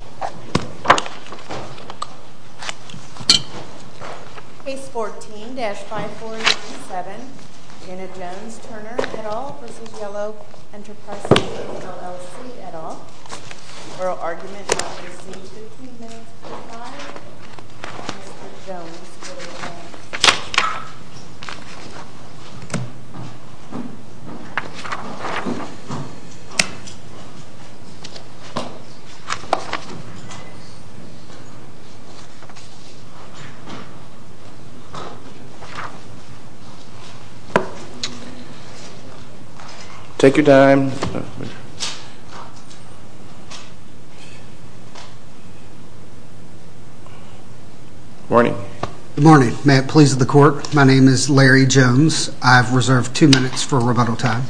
Page 14-5487, Janet Jones, Turner, et al. v. Yellow Enterprise Systems LLC, et al. The oral argument is received 15 minutes before time. Mr. Jones will respond. Take your time. Good morning. May it please the court. My name is Larry Jones. I've reserved two minutes for rebuttal time.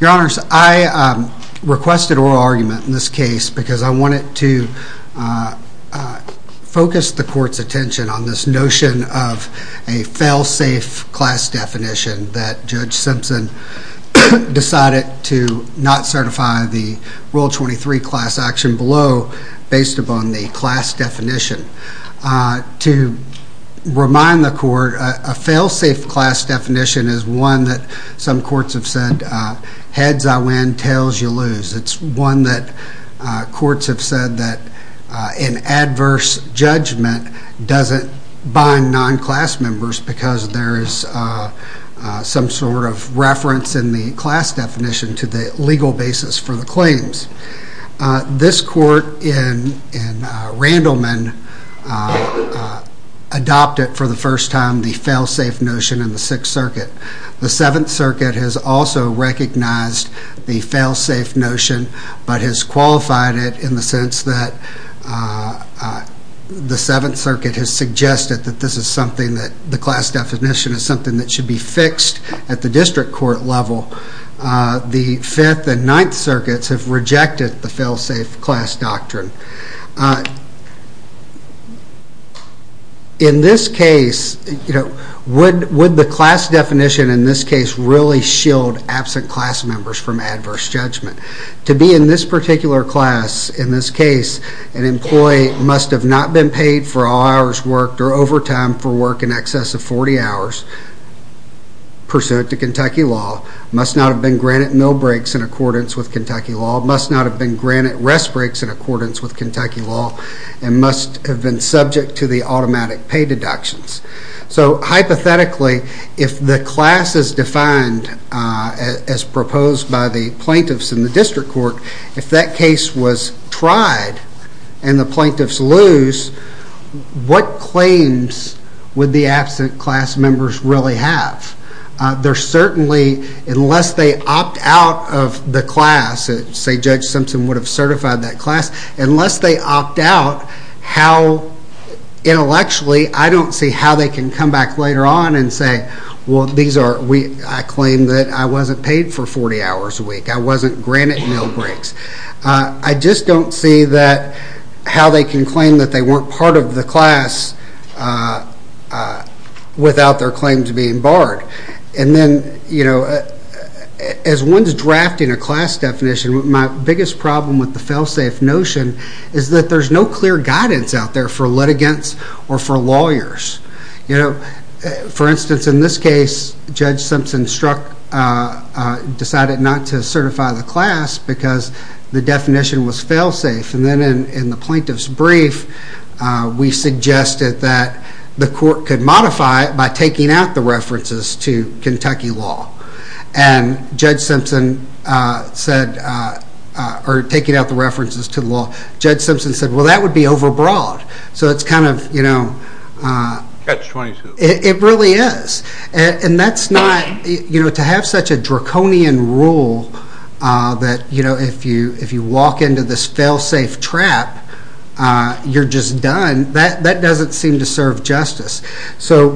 Your Honor, I requested oral argument in this case because I wanted to focus the court's attention on this notion of a fail-safe class definition that Judge Simpson decided to not certify the Rule 23 class action below based upon the class definition. To remind the court, a fail-safe class definition is one that some courts have said heads I win, tails you lose. It's one that courts have said that an adverse judgment doesn't bind non-class members because there is some sort of reference in the class definition to the legal basis for the claims. This court in Randleman adopted for the first time the fail-safe notion in the Sixth Circuit. The Seventh Circuit has also recognized the fail-safe notion but has qualified it in the sense that the Seventh Circuit has suggested that the class definition is something that should be fixed at the district court level. The Fifth and Ninth Circuits have rejected the fail-safe class doctrine. In this case, would the class definition really shield absent class members from adverse judgment? To be in this particular class, in this case, an employee must have not been paid for all hours worked or overtime for work in excess of 40 hours pursuant to Kentucky law, must not have been granted meal breaks in accordance with Kentucky law, must not have been granted rest breaks in accordance with Kentucky law, and must have been subject to the automatic pay deductions. So hypothetically, if the class is defined as proposed by the plaintiffs in the district court, if that case was tried and the plaintiffs lose, what claims would the absent class members really have? Unless they opt out of the class, say Judge Simpson would have certified that class, unless they opt out, intellectually, I don't see how they can come back later on and say, I claim that I wasn't paid for 40 hours a week, I wasn't granted meal breaks. I just don't see how they can claim that they weren't part of the class without their claims being barred. And then, as one's drafting a class definition, my biggest problem with the fail-safe notion is that there's no clear guidance out there for litigants or for lawyers. For instance, in this case, Judge Simpson decided not to certify the class because the definition was fail-safe. And then in the plaintiff's brief, we suggested that the court could modify it by taking out the references to Kentucky law. And Judge Simpson said, well that would be over-broad. It really is. And to have such a draconian rule that if you walk into this fail-safe trap, you're just done, that doesn't seem to serve justice. So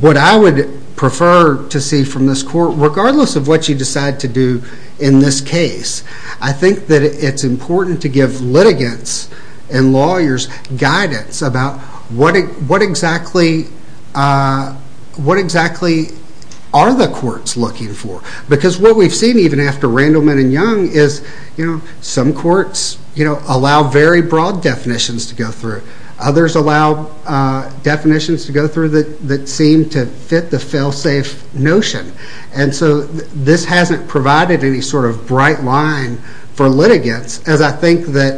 what I would prefer to see from this court, regardless of what you decide to do in this case, I think that it's important to give litigants and lawyers guidance about what exactly are the courts looking for. Because what we've seen, even after Randleman and Young, is some courts allow very broad definitions to go through. Others allow definitions to go through that seem to fit the fail-safe notion. And so this hasn't provided any sort of bright line for litigants, as I think that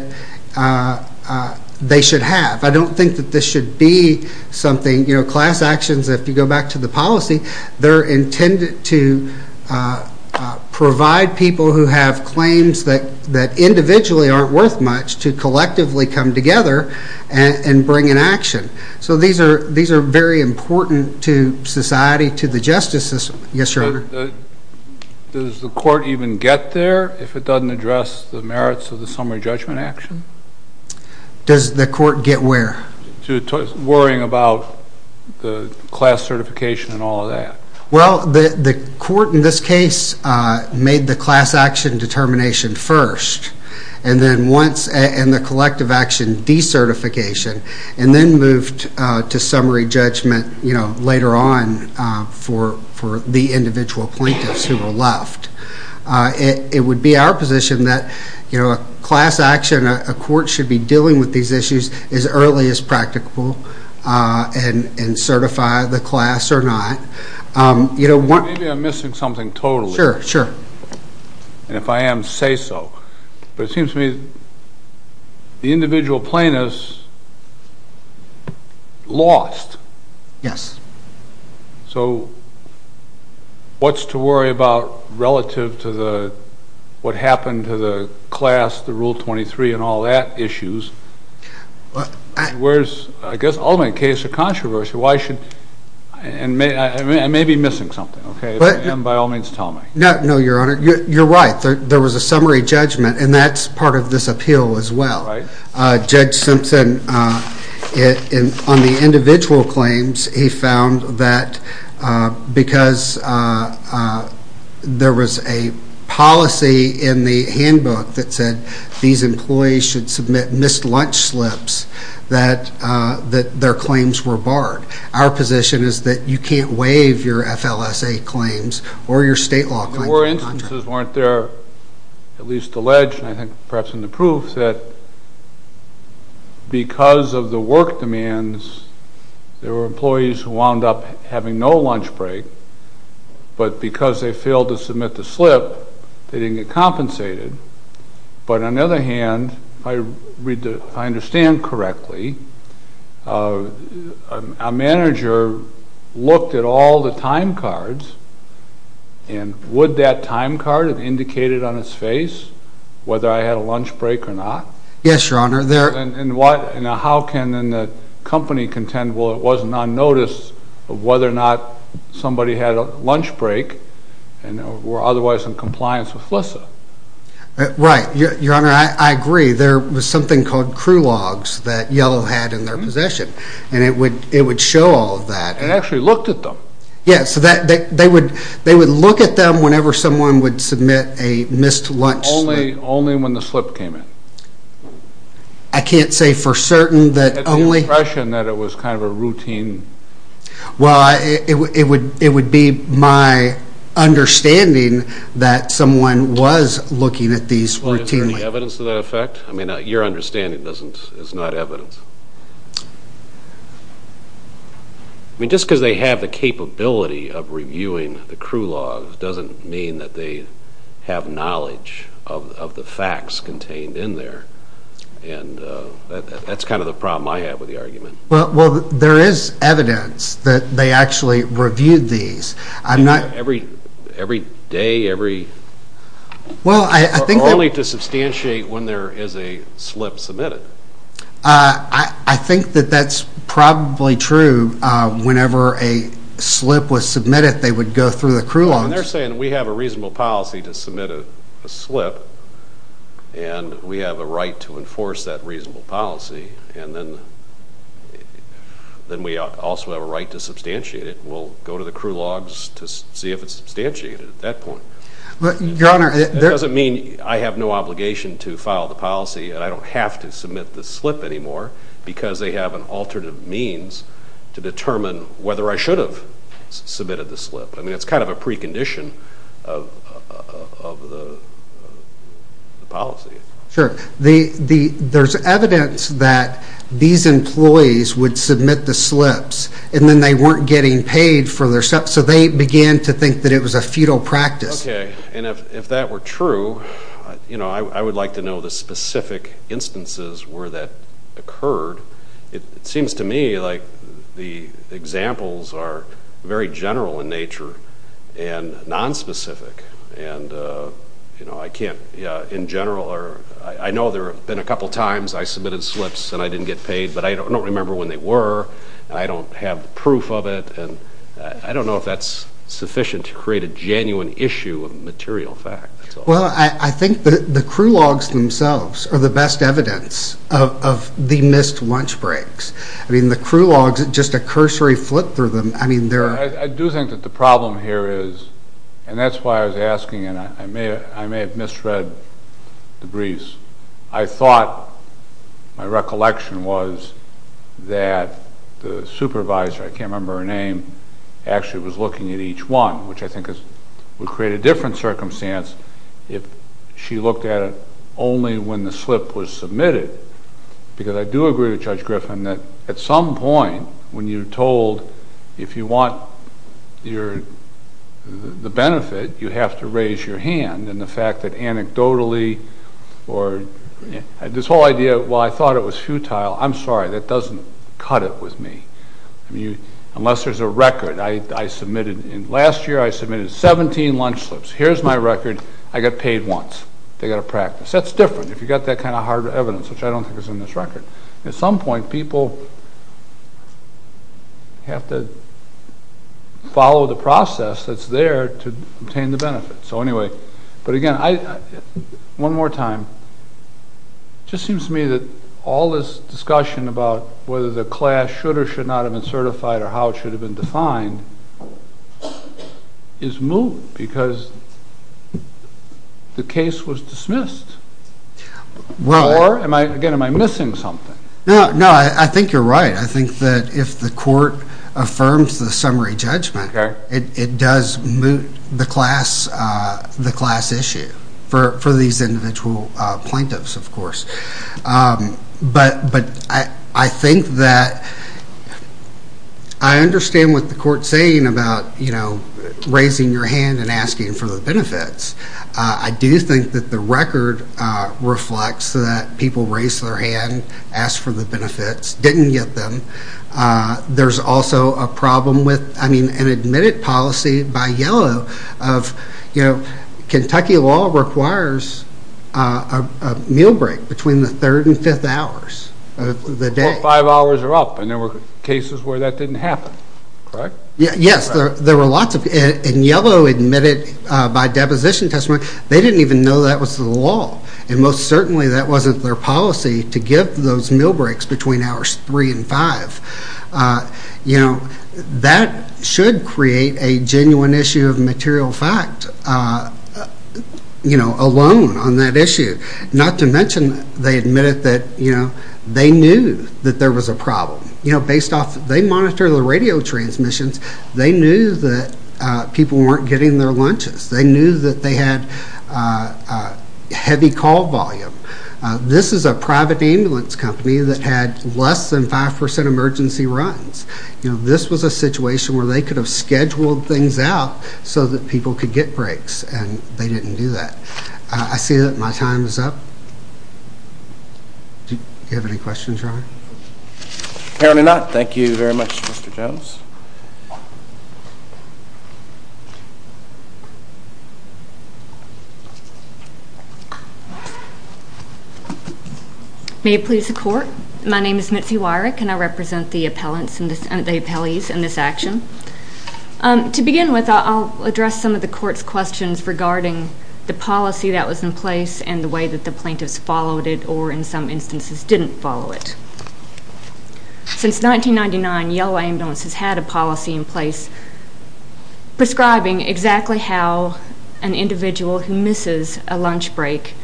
they should have. I don't think that this should be something, you know, class actions, if you go back to the policy, they're intended to provide people who have claims that individually aren't worth much to collectively come together and bring an action. So these are very important to society, to the justice system. Yes, Your Honor? Does the court even get there if it doesn't address the merits of the summary judgment action? Does the court get where? To worrying about the class certification and all of that. Well, the court in this case made the class action determination first, and then once, and the collective action decertification, and then moved to summary judgment, you know, later on for the individual plaintiffs who were left. It would be our position that, you know, a class action, a court should be dealing with these issues as early as practical and certify the class or not. Maybe I'm missing something totally. Sure, sure. And if I am, say so. But it seems to me the individual plaintiffs lost. Yes. So what's to worry about relative to the, what happened to the class, the Rule 23, and all that issues? Where's, I guess, ultimately the case of controversy, why should, I may be missing something, okay? And by all means, tell me. No, Your Honor, you're right. There was a summary judgment, and that's part of this appeal as well. Right. Judge Simpson, on the individual claims, he found that because there was a policy in the handbook that said these employees should submit missed lunch slips, that their claims were barred. Our position is that you can't waive your FLSA claims or your state law claims. There were instances, weren't there, at least alleged, and I think perhaps in the proof, that because of the work demands, there were employees who wound up having no lunch break, but because they failed to submit the slip, they didn't get compensated. But on the other hand, if I understand correctly, a manager looked at all the time cards, and would that time card have indicated on its face whether I had a lunch break or not? Yes, Your Honor. And how can then the company contend, well, it wasn't on notice of whether or not somebody had a lunch break and were otherwise in compliance with FLSA? Right, Your Honor, I agree. There was something called crew logs that Yellow had in their possession, and it would show all of that. And actually looked at them. Yes, so they would look at them whenever someone would submit a missed lunch slip. Only when the slip came in. I can't say for certain that only... At the impression that it was kind of a routine... Well, it would be my understanding that someone was looking at these routinely. Well, is there any evidence to that effect? I mean, your understanding is not evidence. I mean, just because they have the capability of reviewing the crew logs doesn't mean that they have knowledge of the facts contained in there. And that's kind of the problem I have with the argument. Well, there is evidence that they actually reviewed these. Every day, every... Well, I think... Only to substantiate when there is a slip submitted. I think that that's probably true. Whenever a slip was submitted, they would go through the crew logs. When they're saying we have a reasonable policy to submit a slip, and we have a right to enforce that reasonable policy, and then we also have a right to substantiate it, we'll go to the crew logs to see if it's substantiated at that point. Your Honor... It doesn't mean I have no obligation to file the policy, and I don't have to submit the slip anymore, because they have an alternative means to determine whether I should have submitted the slip. I mean, it's kind of a precondition of the policy. Sure. There's evidence that these employees would submit the slips, and then they weren't getting paid for their... So they began to think that it was a fetal practice. Okay. And if that were true, you know, I would like to know the specific instances where that occurred. It seems to me like the examples are very general in nature and nonspecific, and, you know, I can't... In general, I know there have been a couple times I submitted slips and I didn't get paid, but I don't remember when they were, and I don't have proof of it, and I don't know if that's sufficient to create a genuine issue of material fact. Well, I think the crew logs themselves are the best evidence of the missed lunch breaks. I mean, the crew logs, just a cursory flip through them, I mean, there are... I do think that the problem here is, and that's why I was asking, and I may have misread the briefs. I thought, my recollection was, that the supervisor, I can't remember her name, actually was looking at each one, which I think would create a different circumstance if she looked at it only when the slip was submitted, because I do agree with Judge Griffin that at some point when you're told if you want the benefit, you have to raise your hand, and the fact that anecdotally or... This whole idea, while I thought it was futile, I'm sorry, that doesn't cut it with me. Unless there's a record. I submitted, last year I submitted 17 lunch slips. Here's my record. I got paid once. They got to practice. That's different if you've got that kind of hard evidence, which I don't think is in this record. At some point, people have to follow the process that's there to obtain the benefit. So anyway, but again, one more time. It just seems to me that all this discussion about whether the class should or should not have been certified or how it should have been defined is moot, because the case was dismissed. Or, again, am I missing something? No, I think you're right. I think that if the court affirms the summary judgment, it does moot the class issue for these individual plaintiffs, of course. But I think that I understand what the court's saying about raising your hand and asking for the benefits. I do think that the record reflects that people raised their hand, asked for the benefits, didn't get them. There's also a problem with, I mean, an admitted policy by Yellow of, you know, Kentucky law requires a meal break between the third and fifth hours of the day. Well, five hours are up, and there were cases where that didn't happen, correct? Yes, there were lots of, and Yellow admitted by deposition testimony, they didn't even know that was the law. And most certainly that wasn't their policy to give those meal breaks between hours three and five. You know, that should create a genuine issue of material fact, you know, alone on that issue. Not to mention they admitted that, you know, they knew that there was a problem. You know, based off, they monitored the radio transmissions. They knew that people weren't getting their lunches. They knew that they had heavy call volume. This is a private ambulance company that had less than 5% emergency runs. You know, this was a situation where they could have scheduled things out so that people could get breaks, and they didn't do that. I see that my time is up. Do you have any questions, Ryan? Apparently not. Thank you very much, Mr. Jones. May it please the Court. My name is Mitzi Weirich, and I represent the appellees in this action. To begin with, I'll address some of the Court's questions regarding the policy that was in place and the way that the plaintiffs followed it or, in some instances, didn't follow it. Since 1999, Yellow Ambulance has had a policy in place prescribing exactly how an individual who misses a lunch break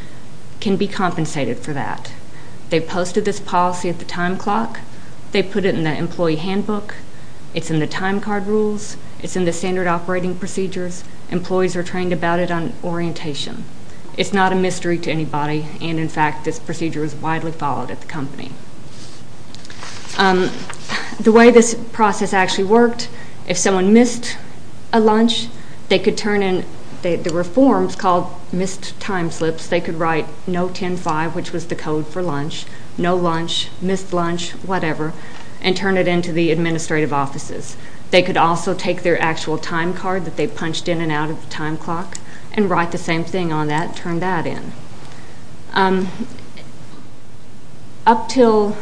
can be compensated for that. They posted this policy at the time clock. They put it in the employee handbook. It's in the time card rules. It's in the standard operating procedures. Employees are trained about it on orientation. It's not a mystery to anybody, and in fact, this procedure is widely followed at the company. The way this process actually worked, if someone missed a lunch, they could turn in the reforms called missed time slips. They could write no 10-5, which was the code for lunch, no lunch, missed lunch, whatever, and turn it into the administrative offices. They could also take their actual time card that they punched in and out of the time clock and write the same thing on that and turn that in. Up until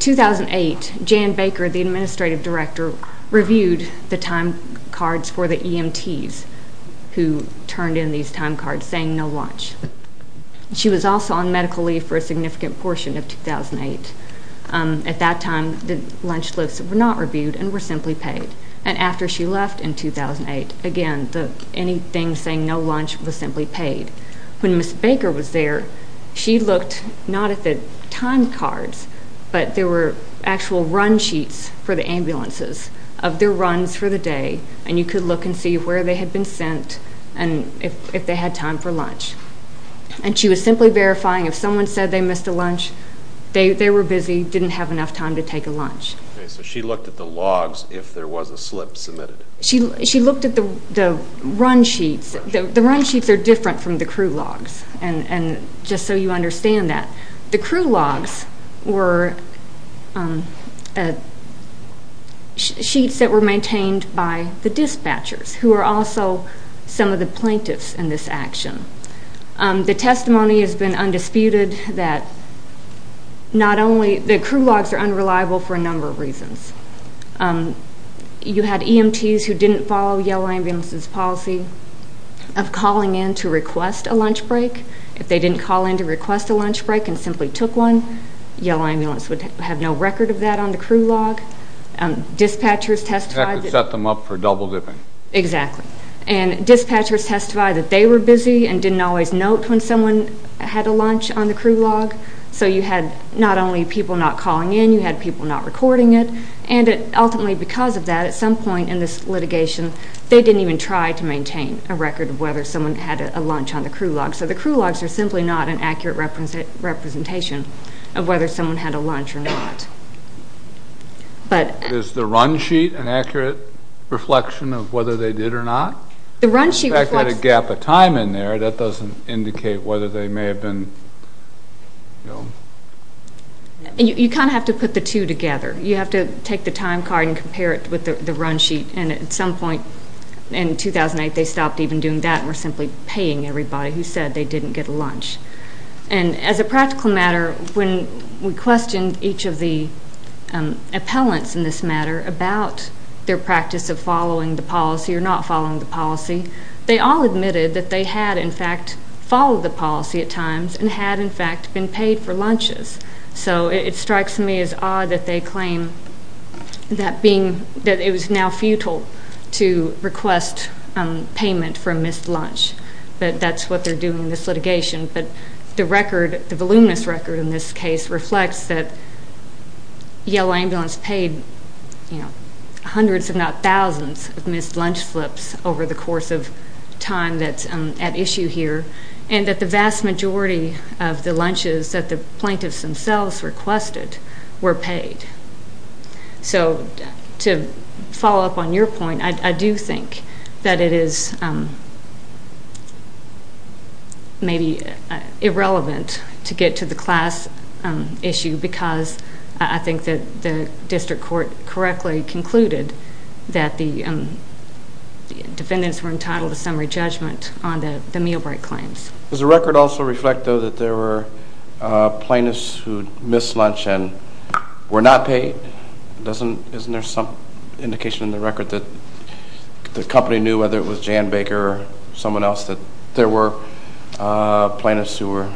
2008, Jan Baker, the administrative director, reviewed the time cards for the EMTs who turned in these time cards saying no lunch. She was also on medical leave for a significant portion of 2008. At that time, the lunch slips were not reviewed and were simply paid. After she left in 2008, again, anything saying no lunch was simply paid. When Ms. Baker was there, she looked not at the time cards, but there were actual run sheets for the ambulances of their runs for the day, and you could look and see where they had been sent and if they had time for lunch. She was simply verifying if someone said they missed a lunch, they were busy, didn't have enough time to take a lunch. Okay, so she looked at the logs if there was a slip submitted. She looked at the run sheets. The run sheets are different from the crew logs, just so you understand that. The crew logs were sheets that were maintained by the dispatchers who were also some of the plaintiffs in this action. The testimony has been undisputed that not only the crew logs are unreliable for a number of reasons. You had EMTs who didn't follow Yellow Ambulance's policy of calling in to request a lunch break. If they didn't call in to request a lunch break and simply took one, Yellow Ambulance would have no record of that on the crew log. Dispatchers testified that they were busy, and didn't always note when someone had a lunch on the crew log. So you had not only people not calling in, you had people not recording it. And ultimately because of that, at some point in this litigation, they didn't even try to maintain a record of whether someone had a lunch on the crew log. So the crew logs are simply not an accurate representation of whether someone had a lunch or not. Is the run sheet an accurate reflection of whether they did or not? The fact that there's a gap of time in there, that doesn't indicate whether they may have been... You kind of have to put the two together. You have to take the time card and compare it with the run sheet. And at some point in 2008, they stopped even doing that and were simply paying everybody who said they didn't get a lunch. And as a practical matter, when we questioned each of the appellants in this matter about their practice of following the policy or not following the policy, they all admitted that they had, in fact, followed the policy at times and had, in fact, been paid for lunches. So it strikes me as odd that they claim that it was now futile to request payment for a missed lunch. But that's what they're doing in this litigation. But the record, the voluminous record in this case, reflects that Yellow Ambulance paid hundreds if not thousands of missed lunch flips over the course of time that's at issue here and that the vast majority of the lunches that the plaintiffs themselves requested were paid. So to follow up on your point, I do think that it is maybe irrelevant to get to the class issue because I think that the district court correctly concluded that the defendants were entitled to summary judgment on the meal break claims. Does the record also reflect, though, that there were plaintiffs who missed lunch and were not paid? Isn't there some indication in the record that the company knew, whether it was Jan Baker or someone else, that there were plaintiffs who were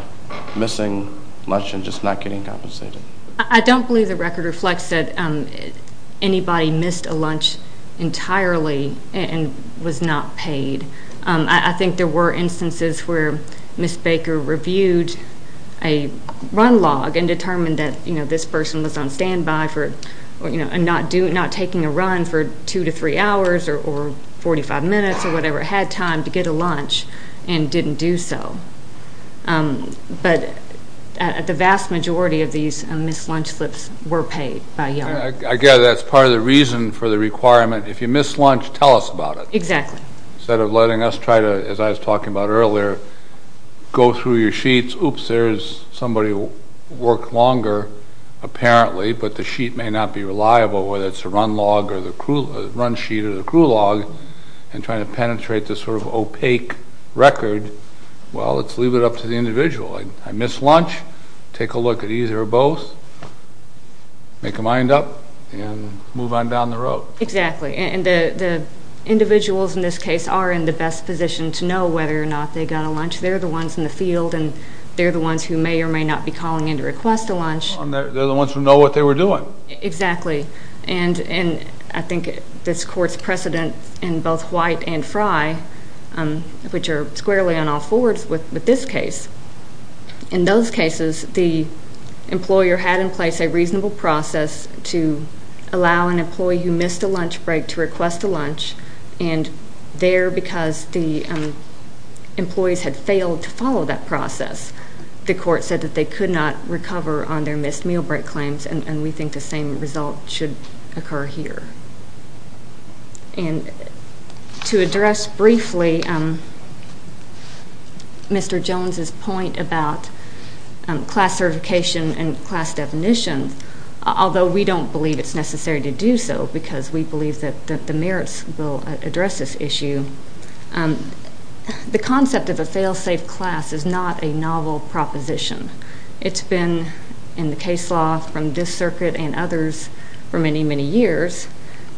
missing lunch and just not getting compensated? I don't believe the record reflects that anybody missed a lunch entirely and was not paid. I think there were instances where Ms. Baker reviewed a run log and determined that this person was on standby for not taking a run for 2 to 3 hours or 45 minutes or whatever, had time to get a lunch, and didn't do so. But the vast majority of these missed lunch flips were paid by Yellow Ambulance. I gather that's part of the reason for the requirement, if you missed lunch, tell us about it. Exactly. Instead of letting us try to, as I was talking about earlier, go through your sheets, oops, there's somebody who worked longer, apparently, but the sheet may not be reliable, whether it's a run sheet or the crew log, and trying to penetrate this sort of opaque record, well, let's leave it up to the individual. I missed lunch, take a look at either or both, make a mind up, and move on down the road. Exactly. And the individuals in this case are in the best position to know whether or not they got a lunch. They're the ones in the field, and they're the ones who may or may not be calling in to request a lunch. They're the ones who know what they were doing. Exactly. And I think this court's precedent in both White and Fry, which are squarely on all fours with this case, in those cases the employer had in place a reasonable process to allow an employee who missed a lunch break to request a lunch, and there, because the employees had failed to follow that process, the court said that they could not recover on their missed meal break claims, and we think the same result should occur here. And to address briefly Mr. Jones's point about class certification and class definition, although we don't believe it's necessary to do so because we believe that the merits will address this issue, the concept of a fail-safe class is not a novel proposition. It's been in the case law from this circuit and others for many, many years,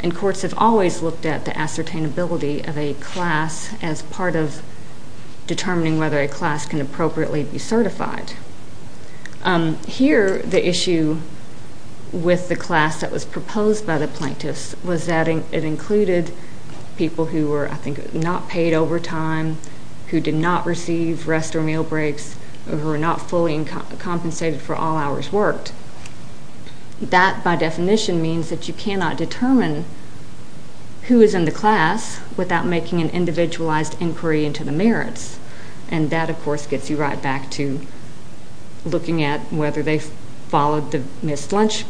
and courts have always looked at the ascertainability of a class as part of determining whether a class can appropriately be certified. Here, the issue with the class that was proposed by the plaintiffs was that it included people who were, I think, not paid overtime, who did not receive rest or meal breaks, or who were not fully compensated for all hours worked. That, by definition, means that you cannot determine who is in the class without making an individualized inquiry into the merits, and that, of course, gets you right back to looking at whether they followed the missed lunch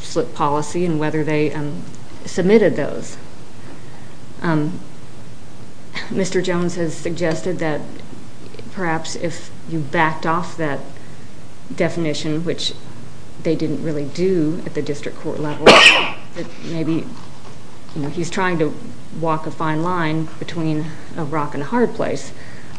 slip policy and whether they submitted those. Mr. Jones has suggested that perhaps if you backed off that definition, which they didn't really do at the district court level, that maybe he's trying to walk a fine line between a rock and a hard place,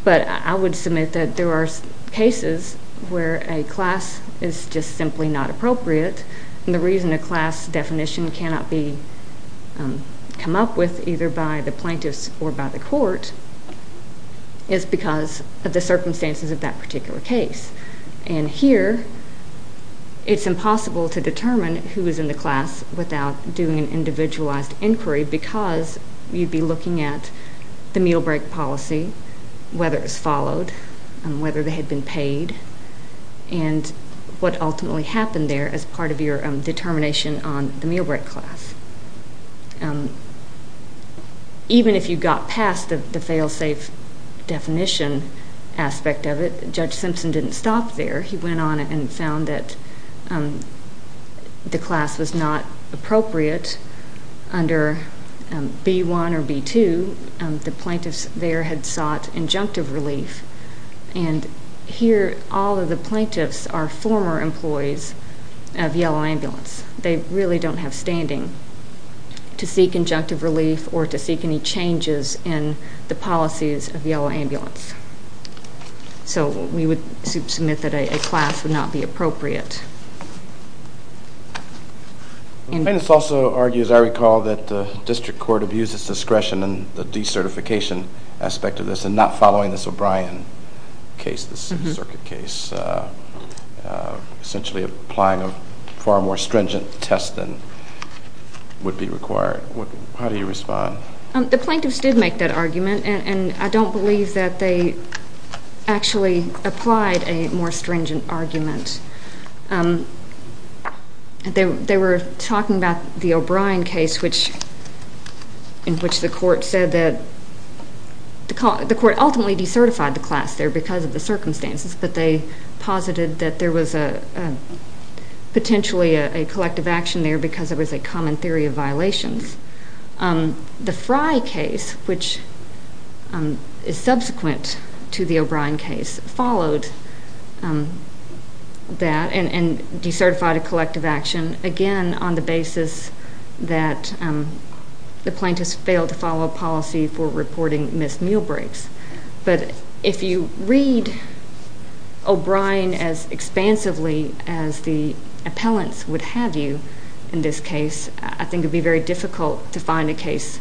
but I would submit that there are cases where a class is just simply not appropriate, and the reason a class definition cannot be come up with either by the plaintiffs or by the court is because of the circumstances of that particular case. And here, it's impossible to determine who is in the class without doing an individualized inquiry because you'd be looking at the meal break policy, whether it's followed, whether they had been paid, and what ultimately happened there as part of your determination on the meal break class. Even if you got past the fail-safe definition aspect of it, Judge Simpson didn't stop there. He went on and found that the class was not appropriate under B-1 or B-2. The plaintiffs there had sought injunctive relief, and here all of the plaintiffs are former employees of Yellow Ambulance. They really don't have standing to seek injunctive relief or to seek any changes in the policies of Yellow Ambulance. So we would submit that a class would not be appropriate. The plaintiffs also argue, as I recall, that the district court abused its discretion in the decertification aspect of this and not following this O'Brien case, this circuit case, essentially applying a far more stringent test than would be required. How do you respond? The plaintiffs did make that argument, and I don't believe that they actually applied a more stringent argument. They were talking about the O'Brien case in which the court said that the court ultimately decertified the class there because of the circumstances, but they posited that there was potentially a collective action there because it was a common theory of violations. The Fry case, which is subsequent to the O'Brien case, followed that and decertified a collective action, again on the basis that the plaintiffs failed to follow a policy for reporting missed meal breaks. But if you read O'Brien as expansively as the appellants would have you in this case, I think it would be very difficult to find a case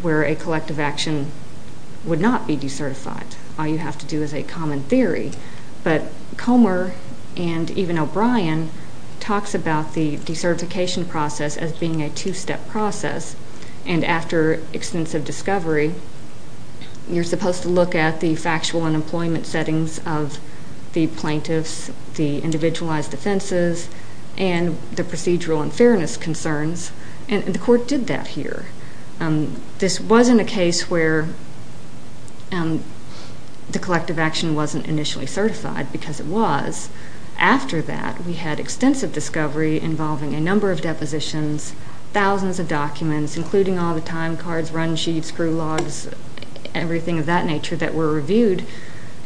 where a collective action would not be decertified. All you have to do is a common theory. But Comer and even O'Brien talks about the decertification process as being a two-step process, and after extensive discovery you're supposed to look at the factual and employment settings of the plaintiffs, the individualized offenses, and the procedural and fairness concerns, and the court did that here. This wasn't a case where the collective action wasn't initially certified, because it was. After that, we had extensive discovery involving a number of depositions, thousands of documents, including all the time cards, run sheets, crew logs, everything of that nature that were reviewed,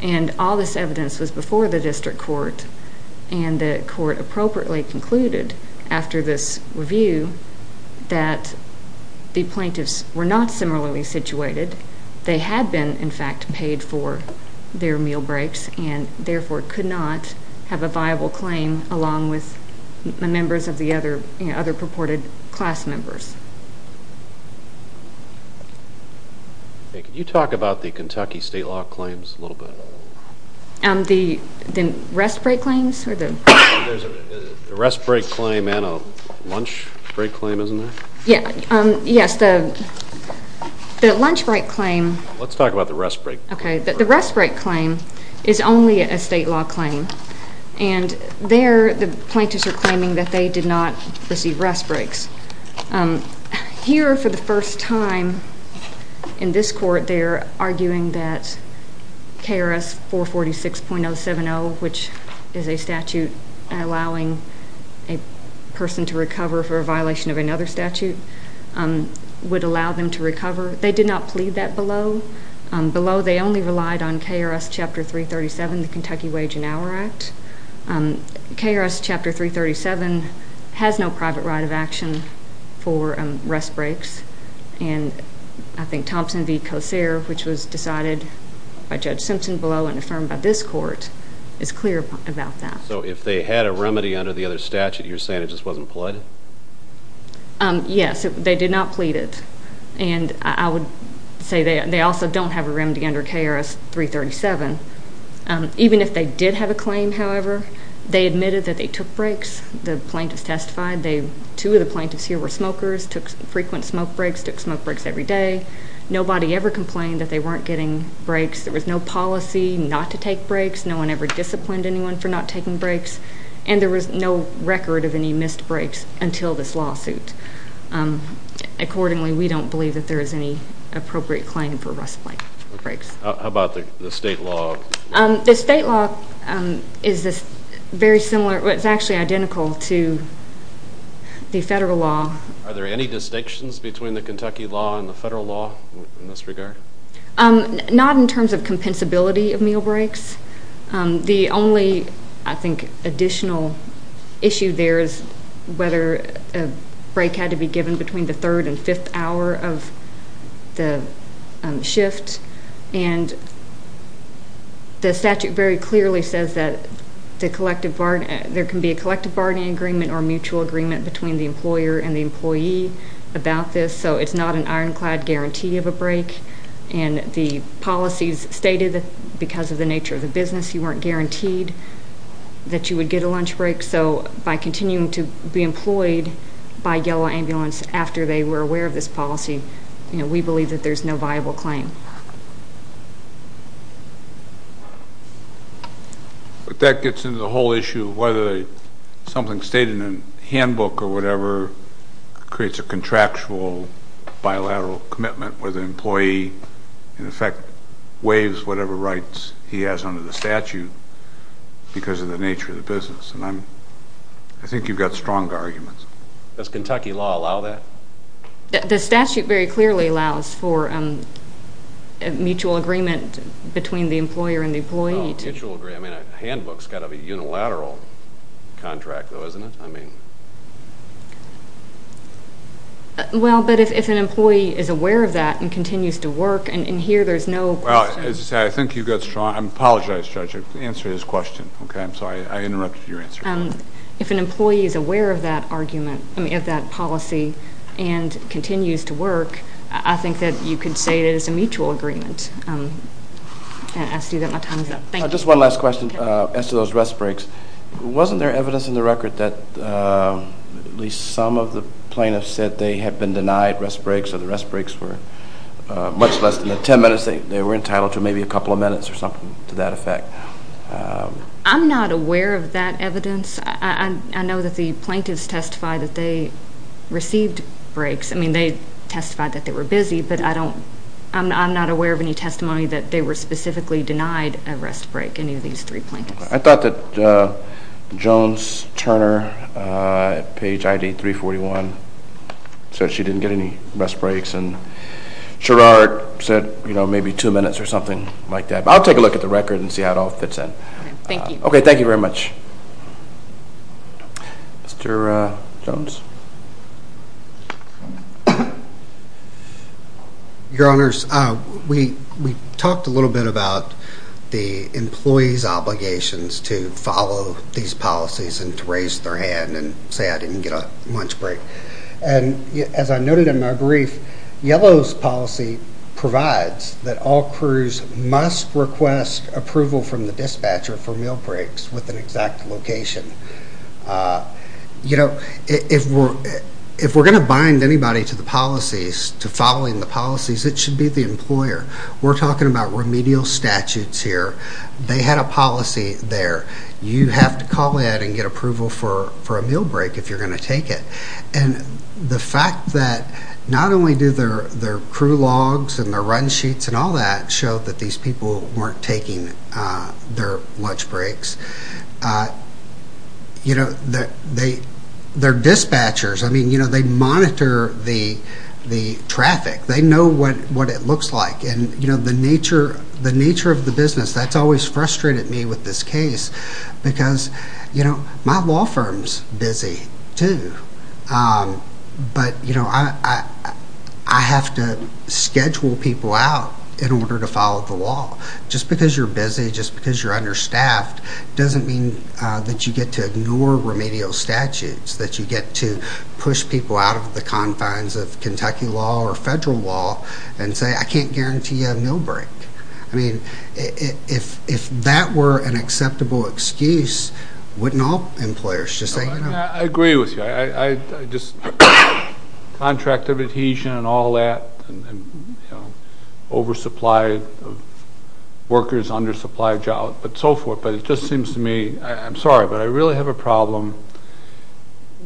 and all this evidence was before the district court, and the court appropriately concluded after this review that the plaintiffs were not similarly situated. They had been, in fact, paid for their meal breaks and therefore could not have a viable claim along with the members of the other purported class members. Can you talk about the Kentucky state law claims a little bit? The rest break claims? There's a rest break claim and a lunch break claim, isn't there? Yes, the lunch break claim. Let's talk about the rest break. Okay, the rest break claim is only a state law claim, and there the plaintiffs are claiming that they did not receive rest breaks. Here, for the first time in this court, they are arguing that KRS 446.070, which is a statute allowing a person to recover for a violation of another statute, would allow them to recover. They did not plead that below. Below, they only relied on KRS Chapter 337, the Kentucky Wage and Hour Act. KRS Chapter 337 has no private right of action for rest breaks, and I think Thompson v. Kosare, which was decided by Judge Simpson below and affirmed by this court, is clear about that. So if they had a remedy under the other statute, you're saying it just wasn't pleaded? Yes, they did not plead it, and I would say they also don't have a remedy under KRS 337. Even if they did have a claim, however, they admitted that they took breaks. The plaintiffs testified. Two of the plaintiffs here were smokers, took frequent smoke breaks, took smoke breaks every day. Nobody ever complained that they weren't getting breaks. There was no policy not to take breaks. No one ever disciplined anyone for not taking breaks, and there was no record of any missed breaks until this lawsuit. Accordingly, we don't believe that there is any appropriate claim for rest breaks. How about the state law? The state law is very similar. It's actually identical to the federal law. Are there any distinctions between the Kentucky law and the federal law in this regard? Not in terms of compensability of meal breaks. The only, I think, additional issue there is whether a break had to be given between the third and fifth hour of the shift, and the statute very clearly says that there can be a collective bargaining agreement or mutual agreement between the employer and the employee about this, so it's not an ironclad guarantee of a break, and the policies stated that because of the nature of the business, you weren't guaranteed that you would get a lunch break, so by continuing to be employed by Yellow Ambulance after they were aware of this policy, we believe that there's no viable claim. But that gets into the whole issue of whether something stated in a handbook or whatever creates a contractual bilateral commitment where the employee, in effect, waives whatever rights he has under the statute because of the nature of the business, and I think you've got strong arguments. Does Kentucky law allow that? The statute very clearly allows for a mutual agreement between the employer and the employee. A handbook's got to be a unilateral contract, though, isn't it? Well, but if an employee is aware of that and continues to work, and here there's no question. Well, as I say, I think you've got strong arguments. I apologize, Judge. The answer to this question. Okay, I'm sorry. I interrupted your answer. If an employee is aware of that argument, of that policy, and continues to work, I think that you could say it is a mutual agreement. I see that my time is up. Thank you. Just one last question as to those rest breaks. Wasn't there evidence in the record that at least some of the plaintiffs said they had been denied rest breaks or the rest breaks were much less than the 10 minutes they were entitled to, maybe a couple of minutes or something to that effect? I'm not aware of that evidence. I know that the plaintiffs testified that they received breaks. I mean, they testified that they were busy, but I'm not aware of any testimony that they were specifically denied a rest break in any of these three plaintiffs. I thought that Jones-Turner at page ID 341 said she didn't get any rest breaks, and Sherard said maybe two minutes or something like that. But I'll take a look at the record and see how it all fits in. Okay, thank you. Okay, thank you very much. Mr. Jones? Your Honors, we talked a little bit about the employees' obligations to follow these policies and to raise their hand and say I didn't get a lunch break. And as I noted in my brief, Yellow's policy provides that all crews must request approval from the dispatcher for meal breaks with an exact location. You know, if we're going to bind anybody to the policies, to following the policies, it should be the employer. We're talking about remedial statutes here. They had a policy there. You have to call in and get approval for a meal break if you're going to take it. And the fact that not only do their crew logs and their run sheets and all that show that these people weren't taking their lunch breaks, you know, they're dispatchers. I mean, you know, they monitor the traffic. They know what it looks like. And, you know, the nature of the business, that's always frustrated me with this case because, you know, my law firm's busy too. But, you know, I have to schedule people out in order to follow the law. Just because you're busy, just because you're understaffed, doesn't mean that you get to ignore remedial statutes, that you get to push people out of the confines of Kentucky law or federal law and say I can't guarantee you a meal break. I mean, if that were an acceptable excuse, wouldn't all employers just say, you know... I agree with you. I just contracted adhesion and all that and, you know, oversupply of workers, undersupply of jobs, but so forth. But it just seems to me, I'm sorry, but I really have a problem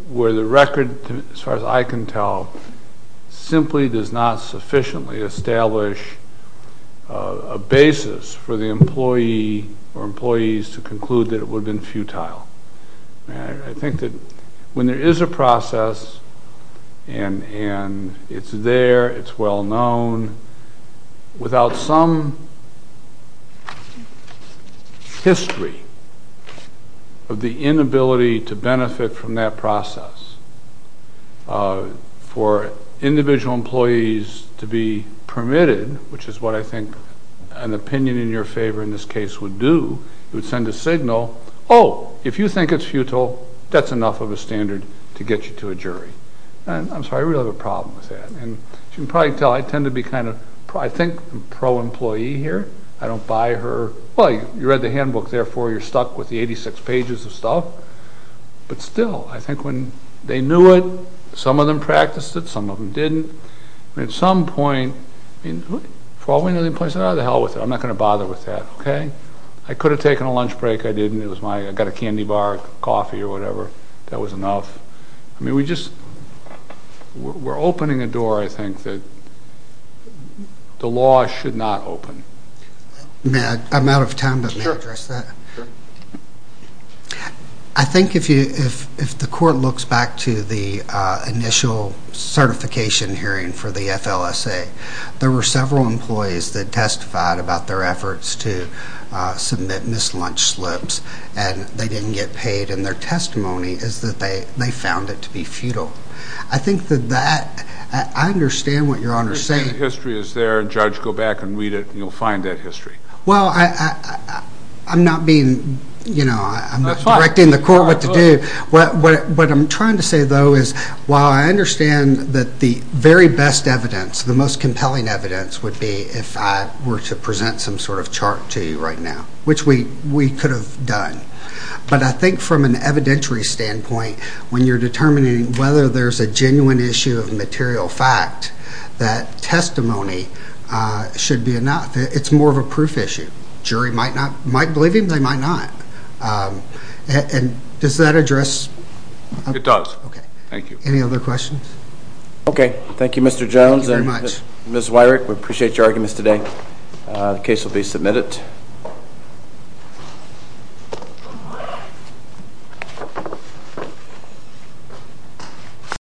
where the record, as far as I can tell, simply does not sufficiently establish a basis for the employee or employees to conclude that it would have been futile. I think that when there is a process and it's there, it's well known, without some history of the inability to benefit from that process, for individual employees to be permitted, which is what I think an opinion in your favor in this case would do, it would send a signal, oh, if you think it's futile, that's enough of a standard to get you to a jury. I'm sorry, I really have a problem with that. And as you can probably tell, I tend to be kind of, I think, pro-employee here. I don't buy her, well, you read the handbook, therefore you're stuck with the 86 pages of stuff. But still, I think when they knew it, some of them practiced it, some of them didn't. At some point, for all we know, the employee said, oh, the hell with it. I'm not going to bother with that, okay? I could have taken a lunch break, I didn't. I got a candy bar, coffee or whatever, that was enough. I mean, we're opening a door, I think, that the law should not open. May I? I'm out of time, but may I address that? Sure. I think if the court looks back to the initial certification hearing for the FLSA, there were several employees that testified about their efforts to submit missed lunch slips and they didn't get paid, and their testimony is that they found it to be futile. I think that that, I understand what Your Honor is saying. The history is there. Judge, go back and read it and you'll find that history. Well, I'm not being, you know, I'm directing the court what to do. What I'm trying to say, though, is while I understand that the very best evidence, the most compelling evidence would be if I were to present some sort of chart to you right now, which we could have done. But I think from an evidentiary standpoint, when you're determining whether there's a genuine issue of material fact, that testimony should be enough. It's more of a proof issue. Jury might believe him, they might not. And does that address? It does. Okay. Thank you. Any other questions? Okay. Thank you, Mr. Jones. Thank you very much. Ms. Weirich, we appreciate your arguments today. The case will be submitted.